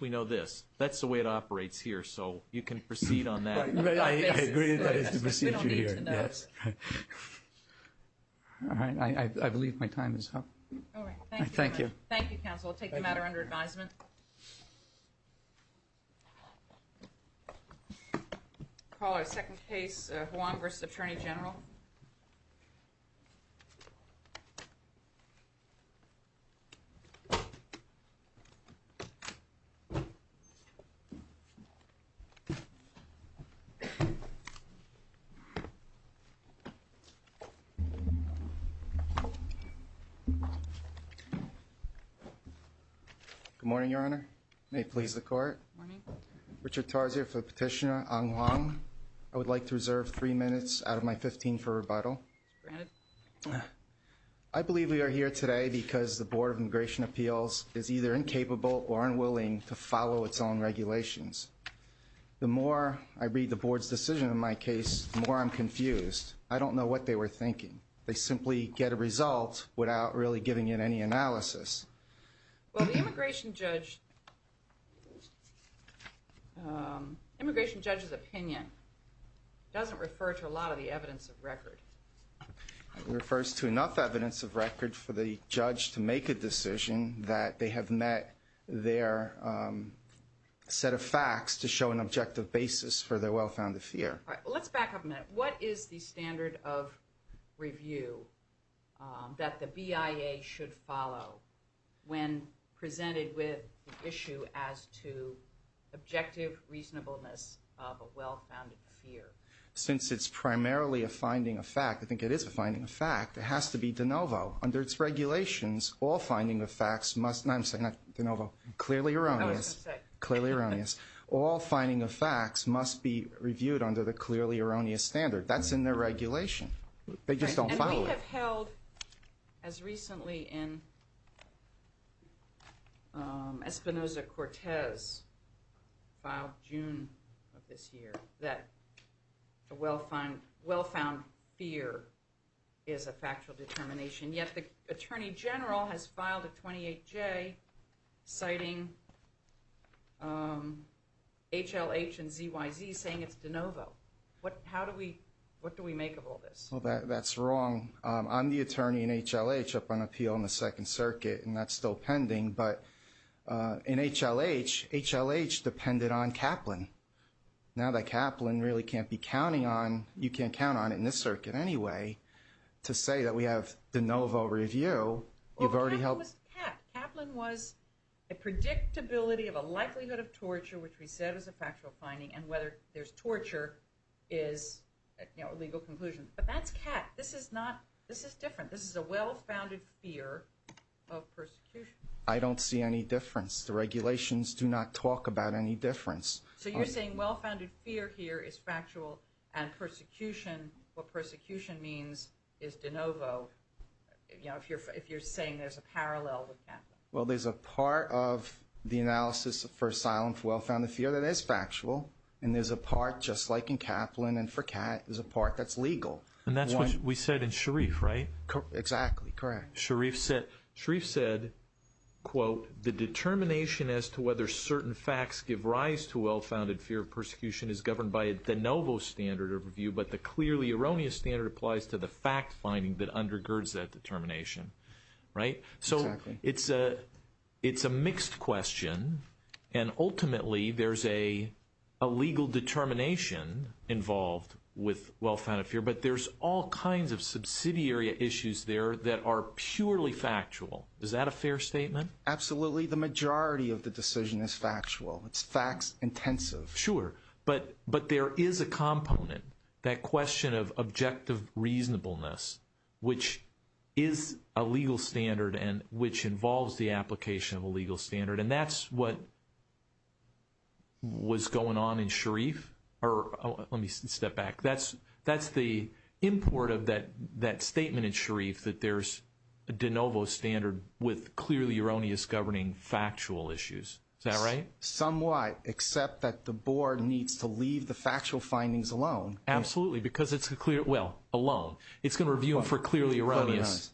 We know this. That's the way it operates here. So you can proceed on that. I believe my time is up. All right. Thank you. Thank you, counsel. I'll take the matter under advisement. Call our second case, Juan v. Attorney General. Good morning, Your Honor. May it please the court. Richard Tarsier for Petitioner Ang Hwang. I would like to reserve three minutes out of my 15-minute time. I believe we are here today because the Board of Immigration Appeals is either incapable or unwilling to follow its own regulations. The more I read the Board's decision on my case, the more I'm confused. I don't know what they were thinking. They simply get a result without really giving it any analysis. Well, the immigration judge's opinion doesn't refer to a lot of the evidence of record. It refers to enough evidence of record for the judge to make a decision that they have met their set of facts to show an objective basis for their well-founded fear. All right. Let's back up a minute. What is the standard of review that the BIA should follow when presented with the issue as to objective reasonableness of a well-founded fear? Since it's primarily a finding of fact, I think it is a finding of fact, it has to be de novo. Under its regulations, all finding of facts must be reviewed under the clearly erroneous standard. That's in their regulation. They just don't follow it. We have held, as recently in Espinoza-Cortez, filed June of this year, that a well-found fear is a factual determination, yet the Attorney General has filed a 28-J citing HLH and ZYZ saying it's de novo. What do we make of all this? Well, that's wrong. I'm the attorney in HLH up on appeal in the Second Circuit, and that's still pending. But in HLH, HLH depended on Kaplan. Now that Kaplan really can't be counting on, you can't count on it in this circuit anyway, to say that we have de novo review. Well, Kaplan was the cat. Kaplan was a predictability of a likelihood of torture, which we said was a factual finding, and whether there's torture is a legal conclusion. But that's cat. This is different. This is a well-founded fear of persecution. I don't see any difference. The regulations do not talk about any difference. So you're saying well-founded fear here is factual, and persecution, what persecution means, is de novo, if you're saying there's a parallel with Kaplan. Well, there's a part of the analysis for asylum for well-founded fear that is factual, and there's a part just like in Kaplan, and for cat, there's a part that's legal. And that's what we said in Sharif, right? Exactly, correct. Sharif said, quote, the determination as to whether certain facts give rise to well-founded fear of persecution is governed by a de novo standard of review, but the clearly erroneous standard applies to the fact finding that undergirds that determination. So it's a mixed question, and ultimately there's a legal determination involved with well-founded fear, but there's all kinds of subsidiary issues there that are purely factual. Is that a fair statement? Absolutely. The majority of the decision is factual. It's facts intensive. Sure, but there is a component, that question of objective reasonableness, which is a legal standard and which involves the application of a legal standard, and that's what was going on in Sharif. Let me step back. That's the import of that statement in Sharif, that there's a de novo standard with clearly erroneous governing factual issues. Is that right? Somewhat, except that the board needs to leave the factual findings alone. Absolutely, because it's a clear, well, alone. It's going to review them for clearly erroneous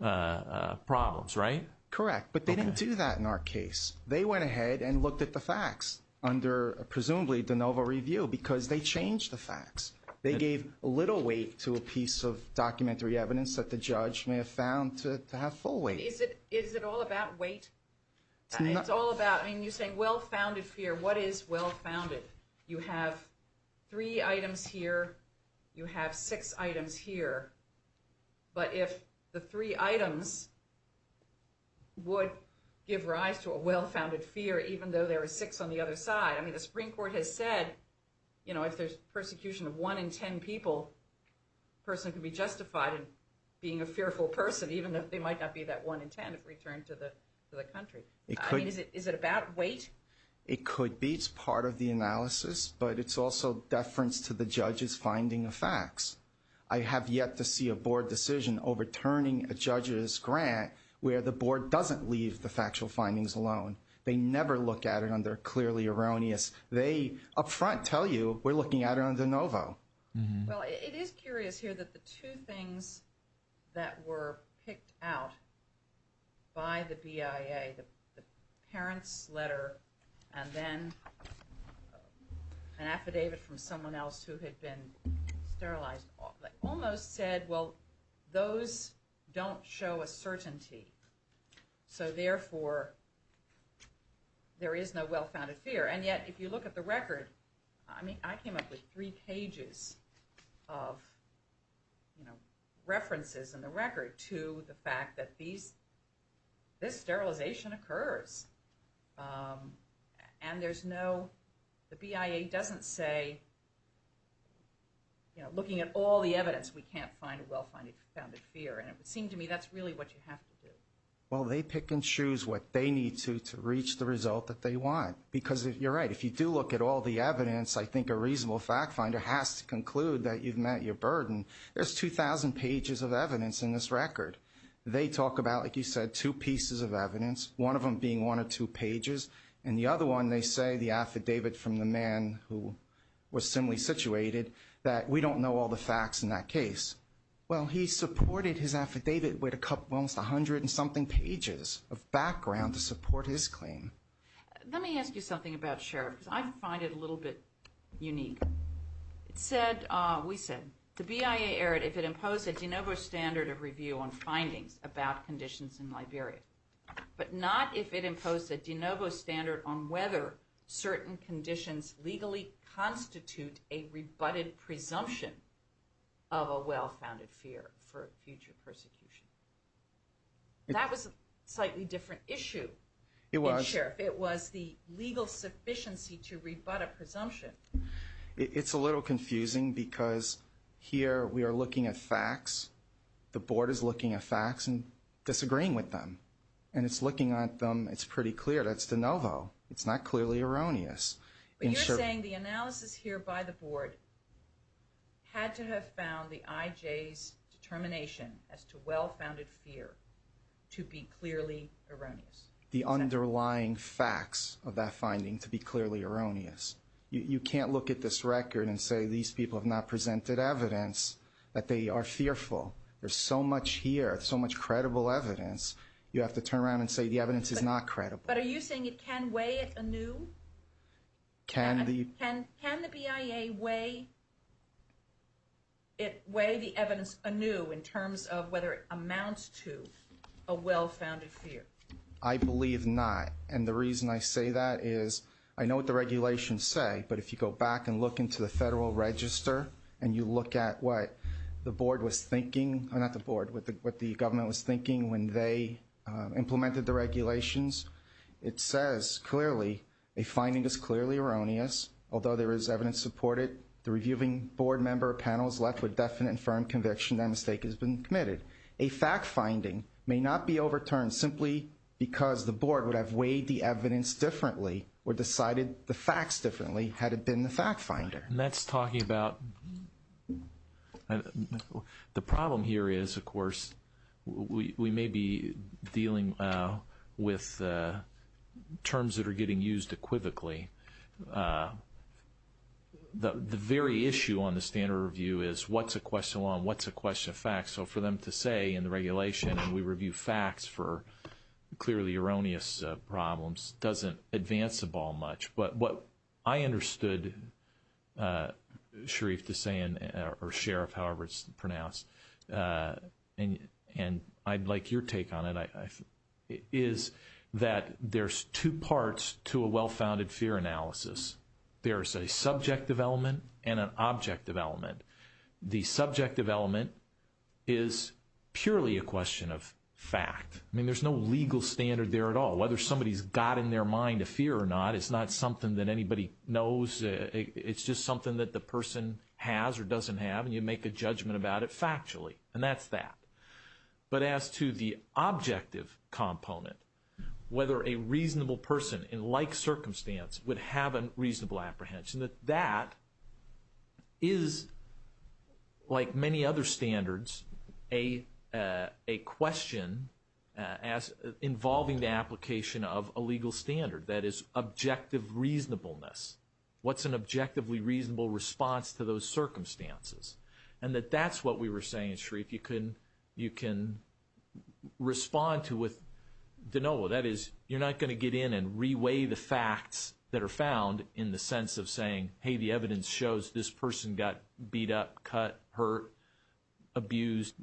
problems, right? Correct, but they didn't do that in our case. They went ahead and looked at the facts under presumably de novo review because they changed the facts. They gave little weight to a piece of documentary evidence that the judge may have found to have full weight. Is it all about weight? You're saying well-founded fear. What is well-founded? You have three items here. You have six items here, but if the three items would give rise to a well-founded fear, even though there are six on the other side. I mean, the Supreme Court has said if there's persecution of one in ten people, a person can be justified in being a fearful person, even though they might not be that one in ten if returned to the country. I mean, is it about weight? It could be. It's part of the analysis, but it's also deference to the judge's finding of facts. I have yet to see a board decision overturning a judge's grant where the board doesn't leave the factual findings alone. They never look at it under clearly erroneous. They up front tell you we're looking at it under de novo. Well, it is curious here that the two things that were picked out by the BIA, the parent's letter and then an affidavit from someone else who had been sterilized, almost said well, those don't show a certainty. So therefore, there is no well-founded fear. And yet, if you look at the record, I mean, I came up with three pages of references in the record to the fact that this sterilization occurs. And there's no, the BIA doesn't say, you know, looking at all the evidence, we can't find a well-founded fear. And it would seem to me that's really what you have to do. Well, they pick and choose what they need to to reach the result that they want. Because you're right, if you do look at all the evidence, I think a reasonable fact finder has to conclude that you've met your burden. There's 2,000 pages of evidence in this record. They talk about, like you said, two pieces of evidence, one of them being one or two pages. And the other one, they say, the affidavit from the man who was similarly situated, that we don't know all the facts in that case. Well, he supported his affidavit with almost 100 and something pages of background to support his claim. Let me ask you something about Sheriff, because I find it a little bit unique. It said, we said, the BIA erred if it imposed a de novo standard of review on findings about conditions in Liberia. But not if it imposed a de novo standard on whether certain conditions legally constitute a rebutted presumption of a well-founded fear for future persecution. That was a slightly different issue. It was. It was the legal sufficiency to rebut a presumption. It's a little confusing, because here we are looking at facts. The board is looking at facts and disagreeing with them. And it's looking at them, it's pretty clear, that's de novo. It's not clearly erroneous. But you're saying the analysis here by the board had to have found the IJ's determination as to well-founded fear to be clearly erroneous. The underlying facts of that finding to be clearly erroneous. You can't look at this record and say, these people have not presented evidence that they are fearful. There's so much here, so much credible evidence, you have to turn around and say, the evidence is not credible. But are you saying it can weigh anew? Can the BIA weigh the evidence anew in terms of whether it amounts to a well-founded fear? I believe not. And the reason I say that is, I know what the regulations say, but if you go back and look into the federal register, and you look at what the board was thinking, not the board, what the government was thinking when they implemented the regulations, it says clearly, a finding is clearly erroneous. Although there is evidence to support it, the reviewing board member or panel is left with definite and firm conviction that a mistake has been committed. A fact-finding may not be overturned simply because the board would have weighed the evidence differently or decided the facts differently had it been the fact-finder. And that's talking about, the problem here is, of course, we may be dealing with terms that are getting used equivocally. The very issue on the standard review is, what's a question of law and what's a question of facts? So for them to say in the regulation, and we review facts for clearly erroneous problems, doesn't advance the ball much. But what I understood Sharif is saying, or Sheriff, however it's pronounced, and I'd like your take on it, is that there's two parts to a well-founded fear analysis. There's a subjective element and an objective element. The subjective element is purely a question of fact. I mean, there's no legal standard there at all. Whether somebody's got in their mind a fear or not, it's not something that anybody knows. It's just something that the person has or doesn't have, and you make a judgment about it factually, and that's that. But as to the objective component, whether a reasonable person in like circumstance would have a reasonable apprehension, that that is, like many other standards, a question involving the application of a legal standard. That is, objective reasonableness. What's an objectively reasonable response to those circumstances? And that that's what we were saying, Sharif, you can respond to with de novo. That is, you're not going to get in and reweigh the facts that are found in the sense of saying, hey, the evidence shows this person got beat up, cut, hurt, abused,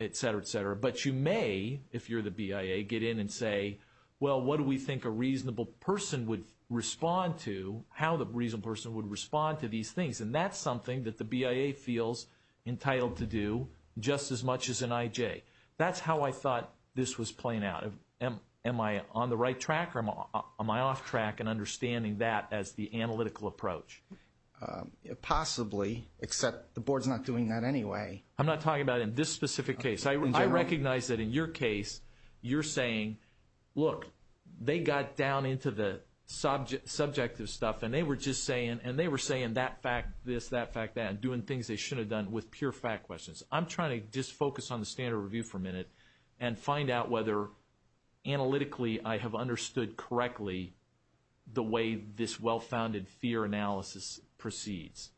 et cetera, et cetera. But you may, if you're the BIA, get in and say, well, what do we think a reasonable person would respond to, how the reasonable person would respond to these things? And that's something that the BIA feels entitled to do just as much as an IJ. That's how I thought this was playing out. Am I on the right track or am I off track in understanding that as the analytical approach? Possibly, except the board's not doing that anyway. I'm not talking about in this specific case. I recognize that in your case, you're saying, look, they got down into the subjective stuff, and they were just saying, and they were saying that fact, this, that fact, that, and doing things they shouldn't have done with pure fact questions. I'm trying to just focus on the standard review for a minute and find out whether analytically I have understood correctly the way this well-founded fear analysis proceeds.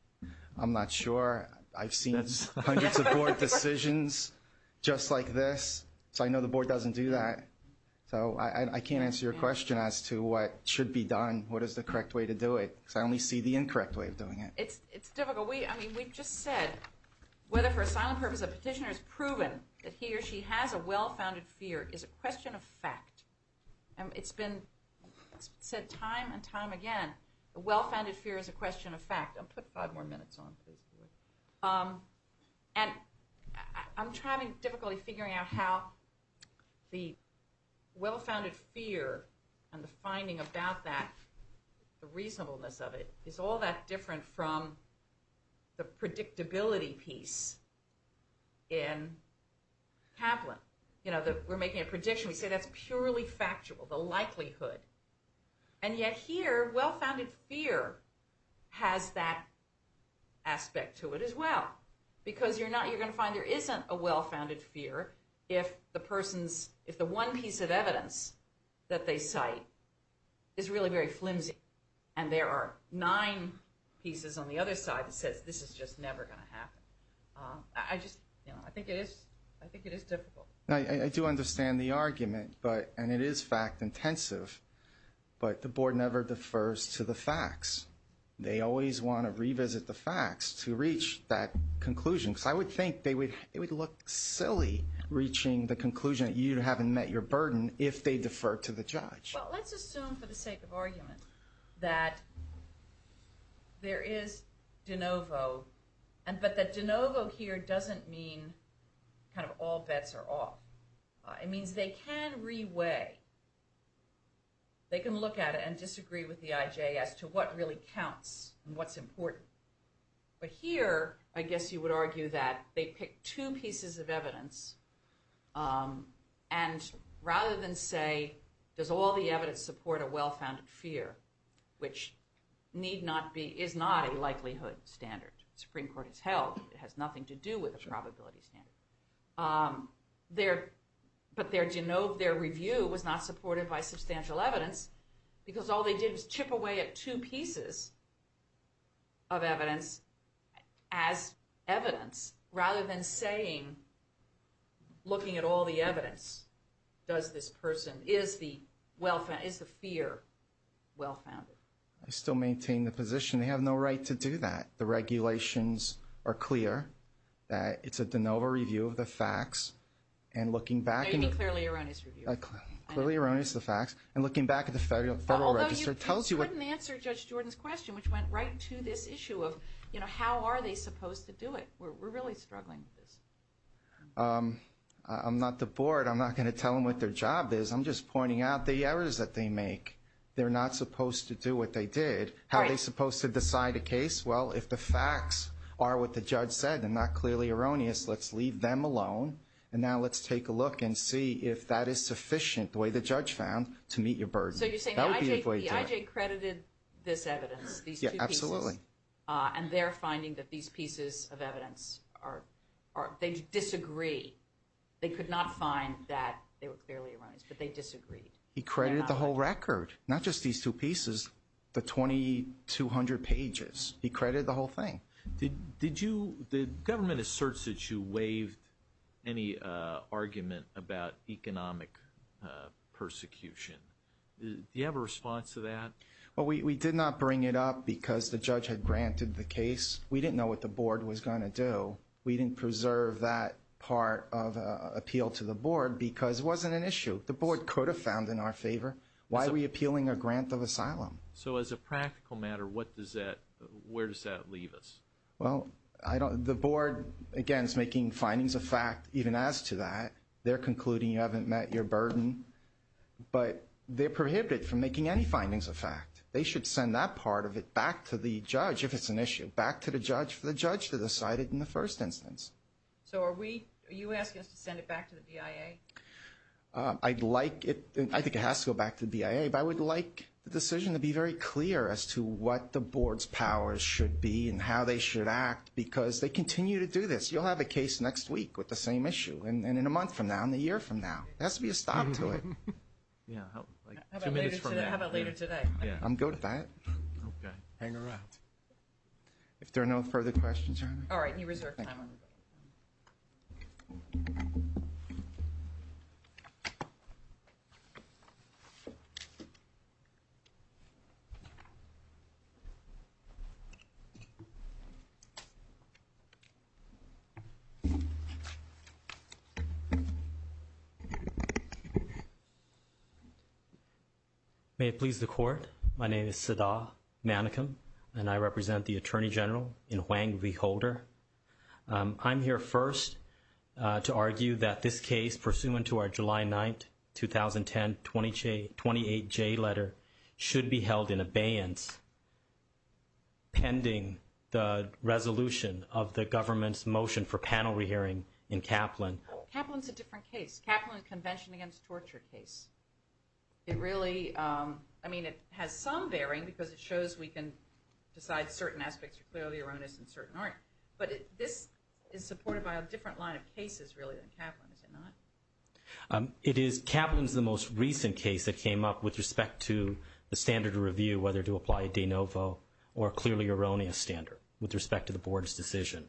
I'm not sure. I've seen hundreds of board decisions just like this. So I know the board doesn't do that. So I can't answer your question as to what should be done, what is the correct way to do it, because I only see the incorrect way of doing it. It's difficult. I mean, we've just said whether for a silent purpose a petitioner has proven that he or she has a well-founded fear is a question of fact. It's been said time and time again, a well-founded fear is a question of fact. I'll put five more minutes on, please. And I'm having difficulty figuring out how the well-founded fear and the finding about that, the reasonableness of it, is all that different from the predictability piece in Kaplan. We're making a prediction. We say that's purely factual, the likelihood. And yet here, well-founded fear has that aspect to it as well, because you're going to find there isn't a well-founded fear if the one piece of evidence that they cite is really very flimsy, and there are nine pieces on the other side that says this is just never going to happen. I just, you know, I think it is difficult. I do understand the argument, and it is fact-intensive, but the board never defers to the facts. They always want to revisit the facts to reach that conclusion, because I would think it would look silly reaching the conclusion that you haven't met your burden if they defer to the judge. Well, let's assume for the sake of argument that there is de novo, but that de novo here doesn't mean kind of all bets are off. It means they can reweigh, they can look at it and disagree with the IJ as to what really counts and what's important. But here, I guess you would argue that they pick two pieces of evidence, and rather than say, does all the evidence support a well-founded fear, which need not be, is not a likelihood standard. The Supreme Court has held it has nothing to do with a probability standard. But their de novo, their review was not supported by substantial evidence, because all they did was chip away at two pieces of evidence as evidence, rather than saying, looking at all the evidence, does this person, is the fear well-founded? I still maintain the position they have no right to do that. The regulations are clear that it's a de novo review of the facts, and looking back... No, you mean clearly erroneous review. Clearly erroneous, the facts, and looking back at the Federal Register tells you... Although you couldn't answer Judge Jordan's question, which went right to this issue of, you know, how are they supposed to do it? We're really struggling with this. I'm not the board. I'm not going to tell them what their job is. I'm just pointing out the errors that they make. They're not supposed to do what they did. Right. How are they supposed to decide a case? Well, if the facts are what the judge said and not clearly erroneous, let's leave them alone. And now let's take a look and see if that is sufficient, the way the judge found, to meet your burden. So you're saying the IJ credited this evidence, these two pieces? Yeah, absolutely. And they're finding that these pieces of evidence are, they disagree. They could not find that they were clearly erroneous, but they disagreed. He credited the whole record, not just these two pieces, the 2,200 pages. He credited the whole thing. Did you, the government asserts that you waived any argument about economic persecution. Do you have a response to that? Well, we did not bring it up because the judge had granted the case. We didn't know what the board was going to do. We didn't preserve that part of appeal to the board because it wasn't an issue. The board could have found in our favor. Why are we appealing a grant of asylum? So as a practical matter, what does that, where does that leave us? Well, I don't, the board, again, is making findings of fact even as to that. They're concluding you haven't met your burden. But they're prohibited from making any findings of fact. They should send that part of it back to the judge if it's an issue. Back to the judge for the judge to decide it in the first instance. So are we, are you asking us to send it back to the BIA? I'd like it, I think it has to go back to the BIA, but I would like the decision to be very clear as to what the board's powers should be and how they should act because they continue to do this. You'll have a case next week with the same issue and then in a month from now and a year from now. There has to be a stop to it. How about later today? I'm good with that. Okay. Hang around. If there are no further questions. All right. You reserve time. May it please the court. My name is Siddha Manikam and I represent the Attorney General in Huang v. Holder. I'm here first to argue that this case pursuant to our July 9, 2010, 28-J letter should be held in abeyance pending the resolution of the government's motion for panel re-hearing in Kaplan. Kaplan's a different case. It's Kaplan's Convention Against Torture case. It really, I mean, it has some bearing because it shows we can decide certain aspects are clearly erroneous and certain aren't. But this is supported by a different line of cases really than Kaplan, is it not? It is. Kaplan's the most recent case that came up with respect to the standard of review, whether to apply a de novo or clearly erroneous standard with respect to the board's decision.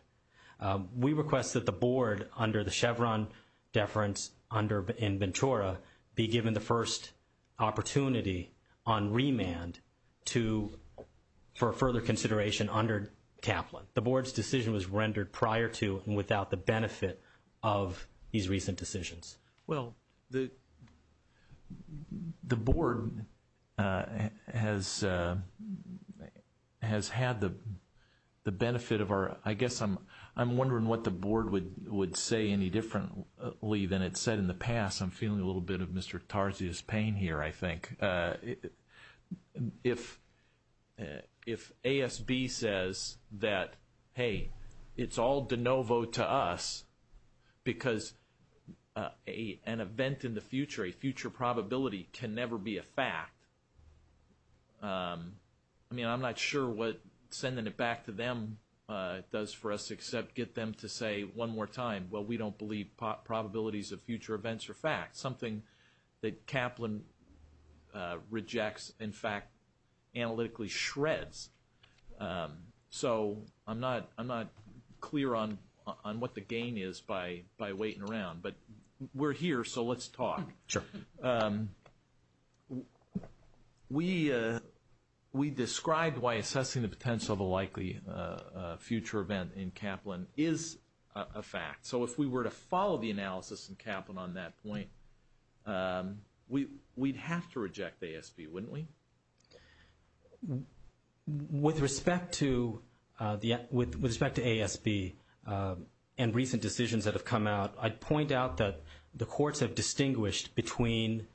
We request that the board under the Chevron deference in Ventura be given the first opportunity on remand for further consideration under Kaplan. The board's decision was rendered prior to and without the benefit of these recent decisions. Well, the board has had the benefit of our, I guess I'm wondering what the board would say any differently than it said in the past. I'm feeling a little bit of Mr. Tarzi's pain here, I think. If ASB says that, hey, it's all de novo to us because an event in the future, a future probability can never be a fact, I mean, I'm not sure what sending it back to them does for us except get them to say one more time, well, we don't believe probabilities of future events are facts, something that Kaplan rejects, in fact, analytically shreds. So I'm not clear on what the gain is by waiting around, but we're here, so let's talk. We described why assessing the potential of a likely future event in Kaplan is a fact. So if we were to follow the analysis in Kaplan on that point, we'd have to reject ASB, wouldn't we? With respect to ASB and recent decisions that have come out, I'd point out that the courts have distinguished between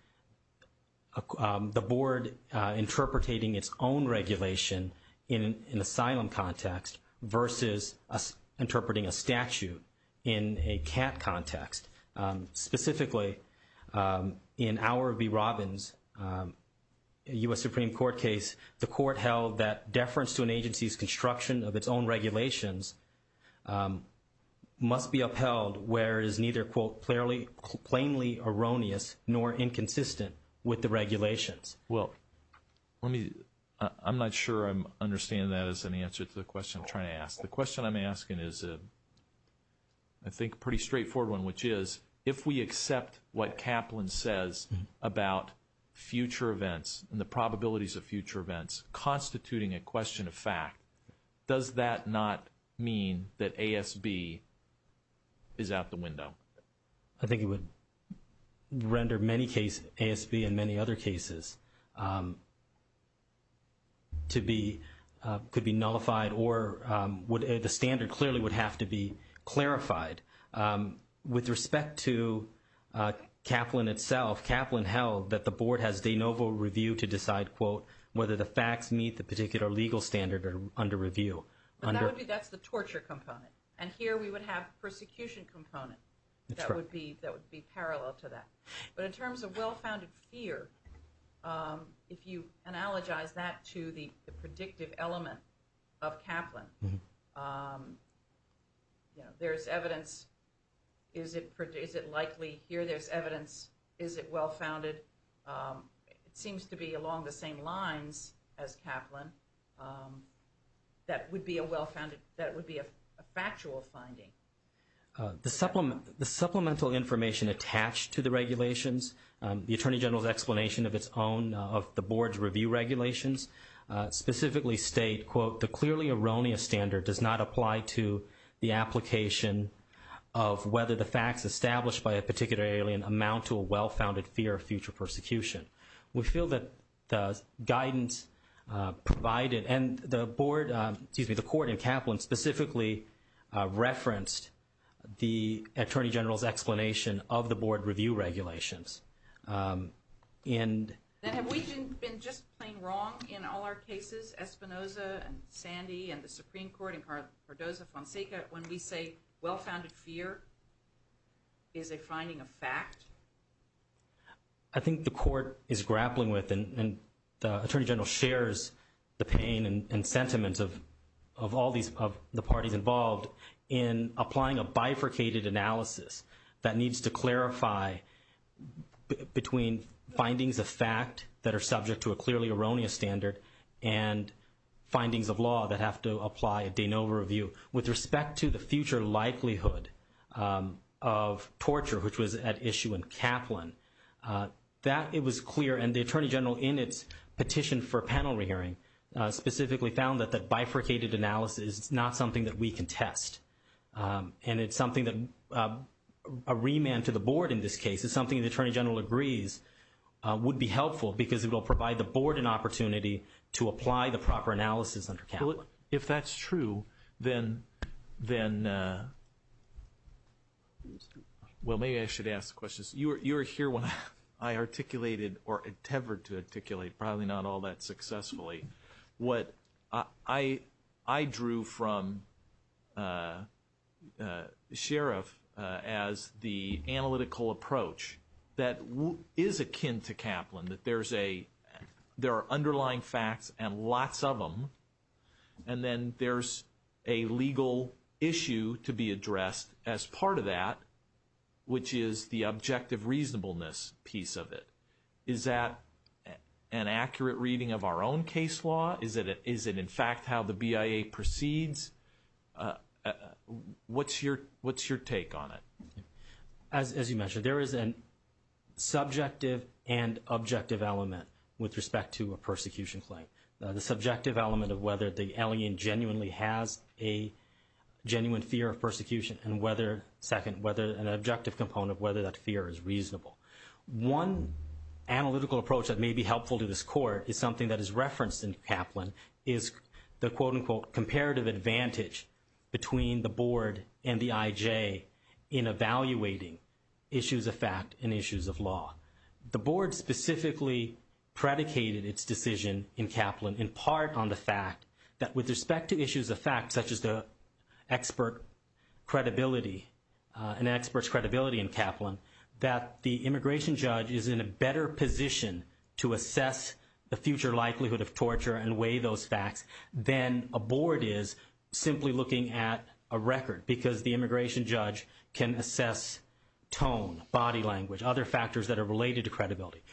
the board interpreting its own regulation in an asylum context versus interpreting a statute in a CAT context. Specifically, in our B. Robbins U.S. Supreme Court case, the court held that deference to an agency's construction of its own regulations must be upheld where it is neither, quote, I'm not sure I'm understanding that as an answer to the question I'm trying to ask. The question I'm asking is, I think, a pretty straightforward one, which is, if we accept what Kaplan says about future events and the probabilities of future events constituting a question of fact, does that not mean that ASB is out the window? I think it would render many cases, ASB and many other cases, could be nullified or the standard clearly would have to be clarified. With respect to Kaplan itself, Kaplan held that the board has de novo review to decide, quote, whether the facts meet the particular legal standard or under review. That's the torture component, and here we would have persecution component that would be parallel to that. But in terms of well-founded fear, if you analogize that to the predictive element of Kaplan, there's evidence, is it likely, here there's evidence, is it well-founded? It seems to be along the same lines as Kaplan. That would be a factual finding. The supplemental information attached to the regulations, the Attorney General's explanation of its own, of the board's review regulations, specifically state, quote, the clearly erroneous standard does not apply to the application of whether the facts established by a particular alien amount to a well-founded fear of future persecution. We feel that the guidance provided, and the board, excuse me, the court in Kaplan specifically referenced the Attorney General's explanation of the board review regulations. And have we been just plain wrong in all our cases, Espinoza and Sandy and the Supreme Court and Cardozo-Fonseca, when we say well-founded fear is a finding of fact? I think the court is grappling with and the Attorney General shares the pain and sentiments of all the parties involved in applying a bifurcated analysis that needs to clarify between findings of fact that are subject to a clearly erroneous standard and findings of law that have to apply a de novo review. With respect to the future likelihood of torture, which was at issue in Kaplan, that it was clear and the Attorney General in its petition for a panel re-hearing specifically found that that bifurcated analysis is not something that we can test. And it's something that a remand to the board in this case is something the Attorney General agrees would be helpful because it will provide the board an opportunity to apply the proper analysis under Kaplan. If that's true, then, well, maybe I should ask the questions. You were here when I articulated or attempted to articulate, probably not all that successfully, what I drew from Sheriff as the analytical approach that is akin to Kaplan, that there are underlying facts and lots of them, and then there's a legal issue to be addressed as part of that, which is the objective reasonableness piece of it. Is that an accurate reading of our own case law? Is it, in fact, how the BIA proceeds? What's your take on it? As you mentioned, there is a subjective and objective element with respect to a persecution claim. The subjective element of whether the alien genuinely has a genuine fear of persecution, and second, an objective component of whether that fear is reasonable. One analytical approach that may be helpful to this court is something that is referenced in Kaplan, is the, quote, unquote, comparative advantage between the board and the IJ in evaluating issues of fact and issues of law. The board specifically predicated its decision in Kaplan in part on the fact that with respect to issues of fact, such as the expert credibility, an expert's credibility in Kaplan, that the immigration judge is in a better position to assess the future likelihood of torture and weigh those facts than a board is simply looking at a record, because the immigration judge can assess tone, body language,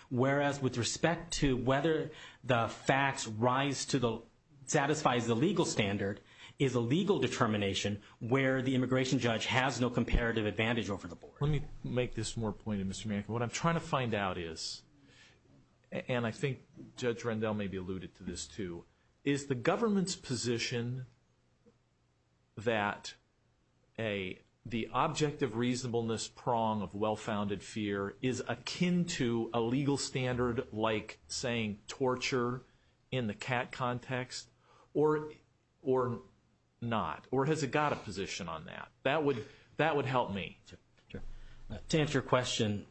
whereas with respect to whether the facts rise to the, satisfies the legal standard, is a legal determination where the immigration judge has no comparative advantage over the board. Let me make this more poignant, Mr. Mankin. What I'm trying to find out is, and I think Judge Rendell may be alluded to this too, is the government's position that the objective reasonableness prong of well-founded fear is akin to a legal standard like saying torture in the CAT context, or not? Or has it got a position on that? That would help me. To answer your question,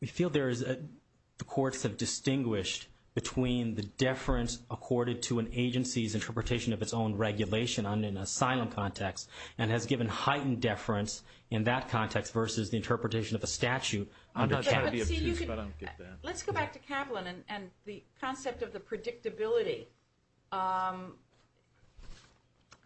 we feel there is, the courts have distinguished between the deference accorded to an agency's interpretation of its own regulation on an asylum context, and has given heightened deference in that context versus the interpretation of a statute. Let's go back to Kaplan and the concept of the predictability.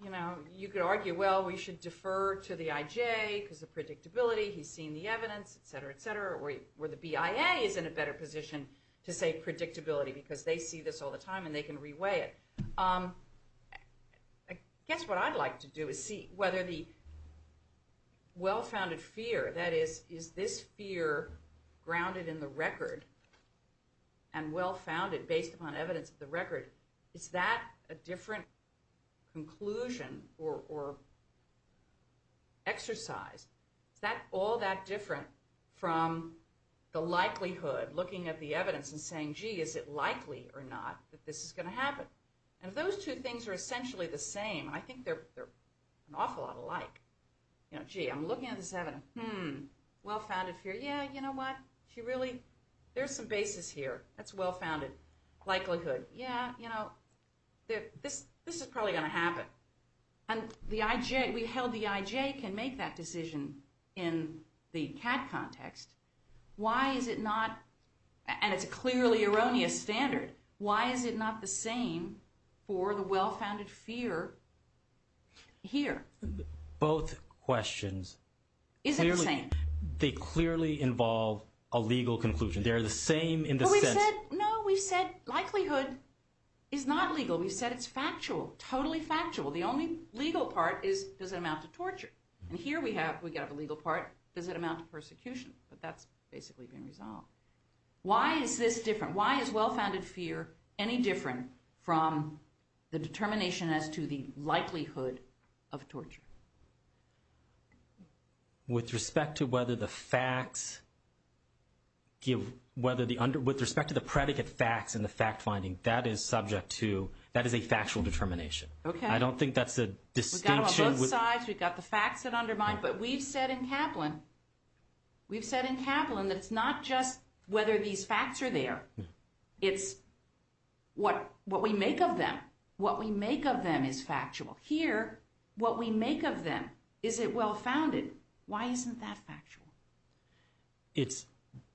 You know, you could argue, well, we should defer to the IJ, because the predictability, he's seen the evidence, et cetera, et cetera, where the BIA is in a better position to say predictability, because they see this all the time and they can re-weigh it. I guess what I'd like to do is see whether the well-founded fear, that is, is this fear grounded in the record, and well-founded based upon evidence of the record, is that a different conclusion or exercise? Is that all that different from the likelihood, looking at the evidence and saying, gee, is it likely or not that this is going to happen? And if those two things are essentially the same, and I think they're an awful lot alike, you know, gee, I'm looking at this evidence, hmm, well-founded fear, yeah, you know what? She really, there's some basis here. That's well-founded likelihood. Yeah, you know, this is probably going to happen. And the IJ, we held the IJ can make that decision in the CAD context. Why is it not, and it's a clearly erroneous standard, why is it not the same for the well-founded fear here? Both questions, they clearly involve a legal conclusion. They are the same in the sense. No, we've said likelihood is not legal. We've said it's factual, totally factual. The only legal part is, does it amount to torture? And here we have, we got the legal part, does it amount to persecution? But that's basically been resolved. Why is this different? Why is well-founded fear any different from the determination as to the likelihood of torture? With respect to whether the facts give, whether the, with respect to the predicate facts and the fact-finding, that is subject to, that is a factual determination. I don't think that's a distinction. We've got them on both sides. We've got the facts that undermine. But we've said in Kaplan, we've said in Kaplan that it's not just whether these facts are there. It's what we make of them. What we make of them is factual. Here, what we make of them, is it well-founded? Why isn't that factual? It's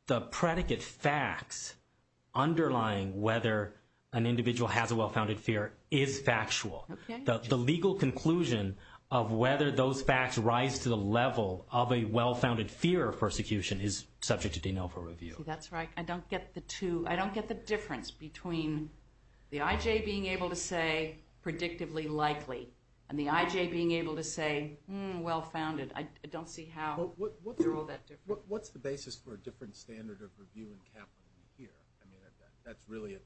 the predicate facts underlying whether an individual has a well-founded fear is factual. The legal conclusion of whether those facts rise to the level of a well-founded fear of persecution is subject to denial for review. See, that's right. I don't get the two. I don't get the difference between the IJ being able to say, predictably likely, and the IJ being able to say, well-founded. I don't see how they're all that different. What's the basis for a different standard of review in Kaplan than here? I mean, that's really at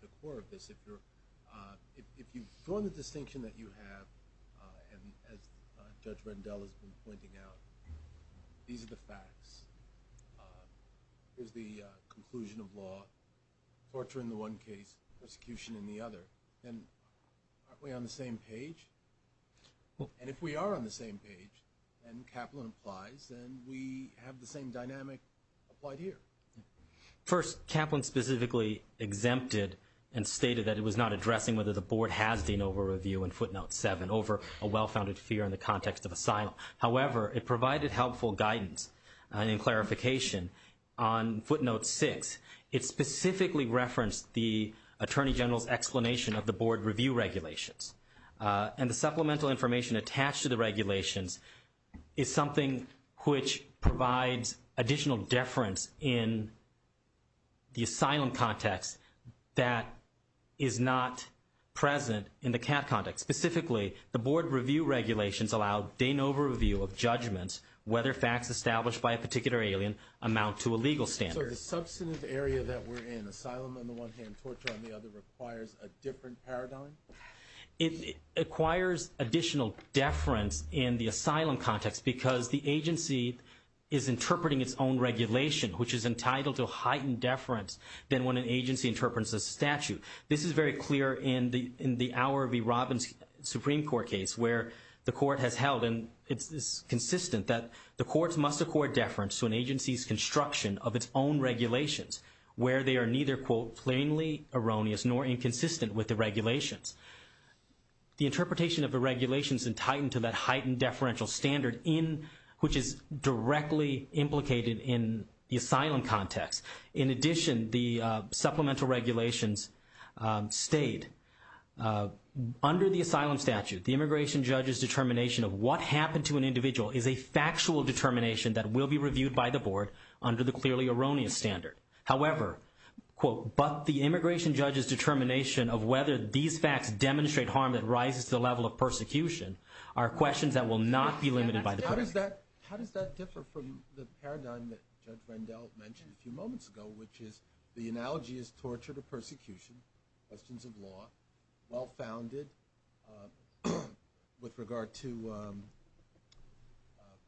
the core of this. If you've drawn the distinction that you have, and as Judge Rendell has been pointing out, these are the facts. Here's the conclusion of law, torture in the one case, persecution in the other. And aren't we on the same page? And if we are on the same page, and Kaplan applies, then we have the same dynamic applied here. First, Kaplan specifically exempted and stated that it was not addressing whether the Board has denial for review in footnote 7 over a well-founded fear in the context of asylum. However, it provided helpful guidance and clarification on footnote 6. It specifically referenced the Attorney General's explanation of the Board review regulations. And the supplemental information attached to the regulations is something which provides additional deference in the asylum context that is not present in the CAT context. Specifically, the Board review regulations allow de novo review of judgments whether facts established by a particular alien amount to a legal standard. So the substantive area that we're in, asylum on the one hand, torture on the other, requires a different paradigm? It requires additional deference in the asylum context because the agency is interpreting its own regulation, which is entitled to heightened deference than when an agency interprets a statute. This is very clear in the Auer v. Robbins Supreme Court case where the court has held, and it's consistent, that the courts must accord deference to an agency's construction of its own regulations, where they are neither, quote, plainly erroneous nor inconsistent with the regulations. The interpretation of the regulations is entitled to that heightened deferential standard, which is directly implicated in the asylum context. In addition, the supplemental regulations state, under the asylum statute, the immigration judge's determination of what happened to an individual is a factual determination that will be reviewed by the Board under the clearly erroneous standard. However, quote, but the immigration judge's determination of whether these facts demonstrate harm that rises to the level of persecution are questions that will not be limited by the court. How does that differ from the paradigm that Judge Rendell mentioned a few moments ago, which is the analogy is torture to persecution, questions of law, well-founded with regard to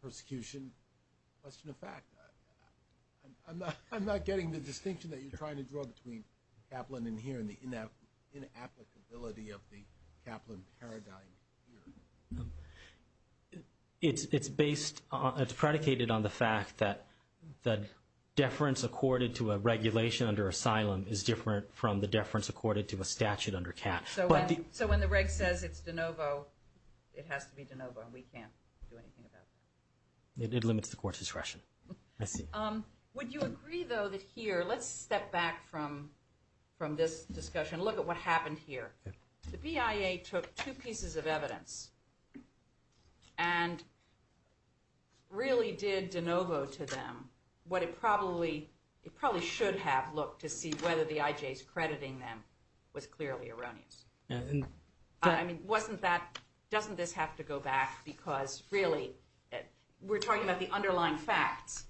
persecution, question of fact. I'm not getting the distinction that you're trying to draw between Kaplan in here and the inapplicability of the Kaplan paradigm here. It's predicated on the fact that deference accorded to a regulation under asylum is different from the deference accorded to a statute under CAT. So when the reg says it's de novo, it has to be de novo, and we can't do anything about that. It limits the court's discretion. I see. Would you agree, though, that here, let's step back from this discussion, look at what happened here. The BIA took two pieces of evidence and really did de novo to them what it probably should have looked to see whether the IJ's crediting them was clearly erroneous. I mean, wasn't that – doesn't this have to go back because, really, we're talking about the underlying facts,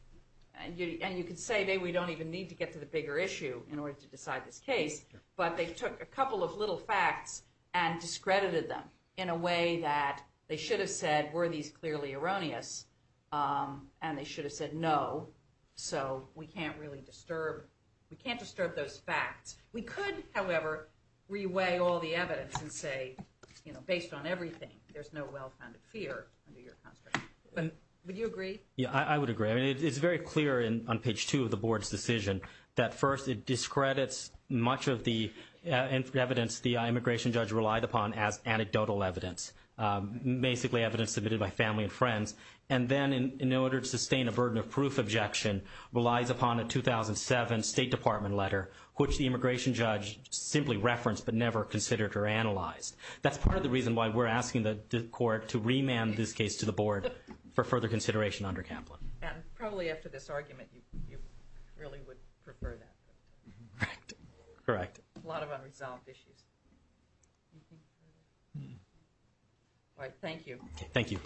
and you can say maybe we don't even need to get to the bigger issue in order to decide this case, but they took a couple of little facts and discredited them in a way that they should have said were these clearly erroneous, and they should have said no, so we can't really disturb – we can't disturb those facts. We could, however, reweigh all the evidence and say, you know, based on everything, there's no well-founded fear under your construct. Would you agree? Yeah, I would agree. I mean, it's very clear on page two of the board's decision that, first, it discredits much of the evidence the immigration judge relied upon as anecdotal evidence, basically evidence submitted by family and friends, and then, in order to sustain a burden of proof objection, relies upon a 2007 State Department letter, which the immigration judge simply referenced but never considered or analyzed. That's part of the reason why we're asking the court to remand this case to the board for further consideration under Kaplan. And probably after this argument, you really would prefer that. Correct. A lot of unresolved issues. All right, thank you. Thank you. Thank you,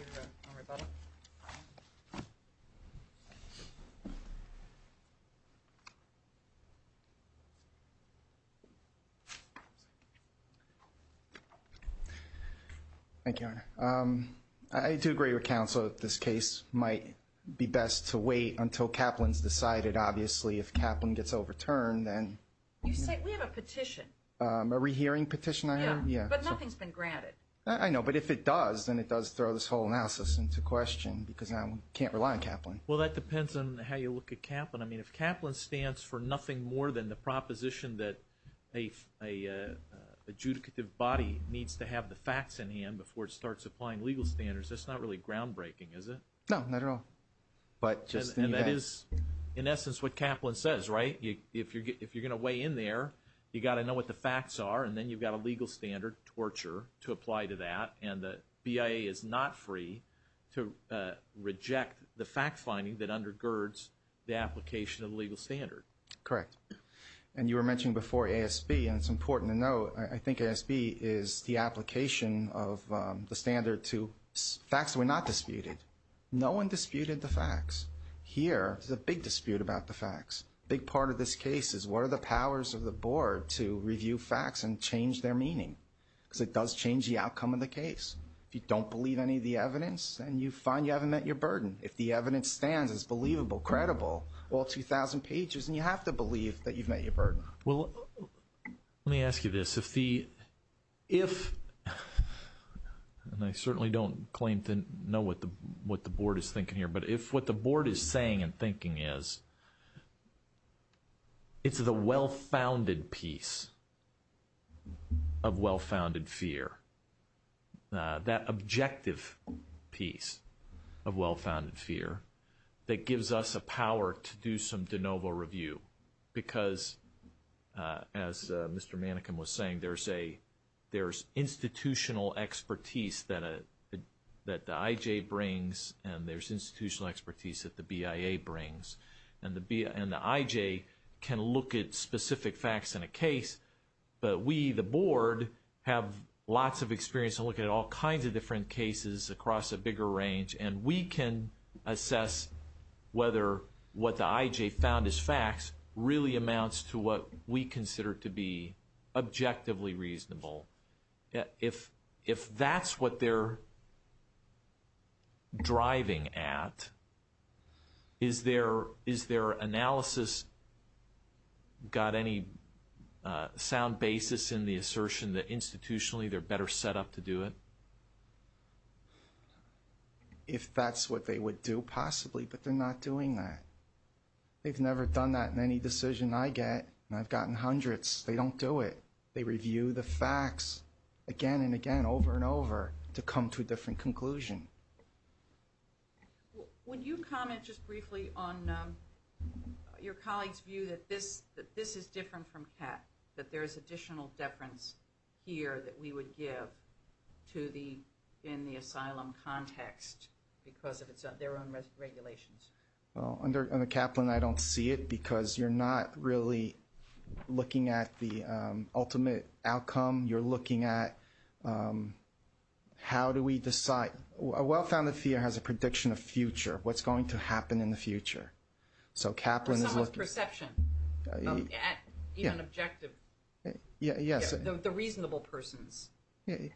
Your Honor. I do agree with counsel that this case might be best to wait until Kaplan's decided. Obviously, if Kaplan gets overturned, then – You say – we have a petition. A rehearing petition item? Yeah, but nothing's been granted. I know, but if it does, then it does throw this whole analysis into question because now we can't rely on Kaplan. Well, that depends on how you look at Kaplan. I mean, if Kaplan stands for nothing more than the proposition that a adjudicative body needs to have the facts in hand before it starts applying legal standards, that's not really groundbreaking, is it? No, not at all. And that is, in essence, what Kaplan says, right? If you're going to weigh in there, you've got to know what the facts are, and then you've got a legal standard, torture, to apply to that. And the BIA is not free to reject the fact-finding that undergirds the application of the legal standard. Correct. And you were mentioning before ASB, and it's important to note, I think ASB is the application of the standard to facts that were not disputed. No one disputed the facts. Here, there's a big dispute about the facts. A big part of this case is what are the powers of the board to review facts and change their meaning? Because it does change the outcome of the case. If you don't believe any of the evidence, then you find you haven't met your burden. If the evidence stands as believable, credible, all 2,000 pages, then you have to believe that you've met your burden. Well, let me ask you this. If, and I certainly don't claim to know what the board is thinking here, but if what the board is saying and thinking is, it's the well-founded piece of well-founded fear, that objective piece of well-founded fear, that gives us a power to do some de novo review. Because, as Mr. Manekin was saying, there's institutional expertise that the IJ brings, and there's institutional expertise that the BIA brings. And the IJ can look at specific facts in a case, but we, the board, have lots of experience and look at all kinds of different cases across a bigger range, and we can assess whether what the IJ found as facts really amounts to what we consider to be objectively reasonable. If that's what they're driving at, is their analysis got any sound basis in the assertion that institutionally they're better set up to do it? If that's what they would do, possibly, but they're not doing that. They've never done that in any decision I get, and I've gotten hundreds. They don't do it. They review the facts again and again, over and over, to come to a different conclusion. When you comment just briefly on your colleague's view that this is different from CAT, that there's additional deference here that we would give to the, in the asylum context, because of their own regulations. Well, under Kaplan, I don't see it, because you're not really looking at the ultimate outcome. You're looking at how do we decide. A well-founded fear has a prediction of future, what's going to happen in the future. So Kaplan is looking. Someone's perception, even objective. Yes. The reasonable persons. It could be.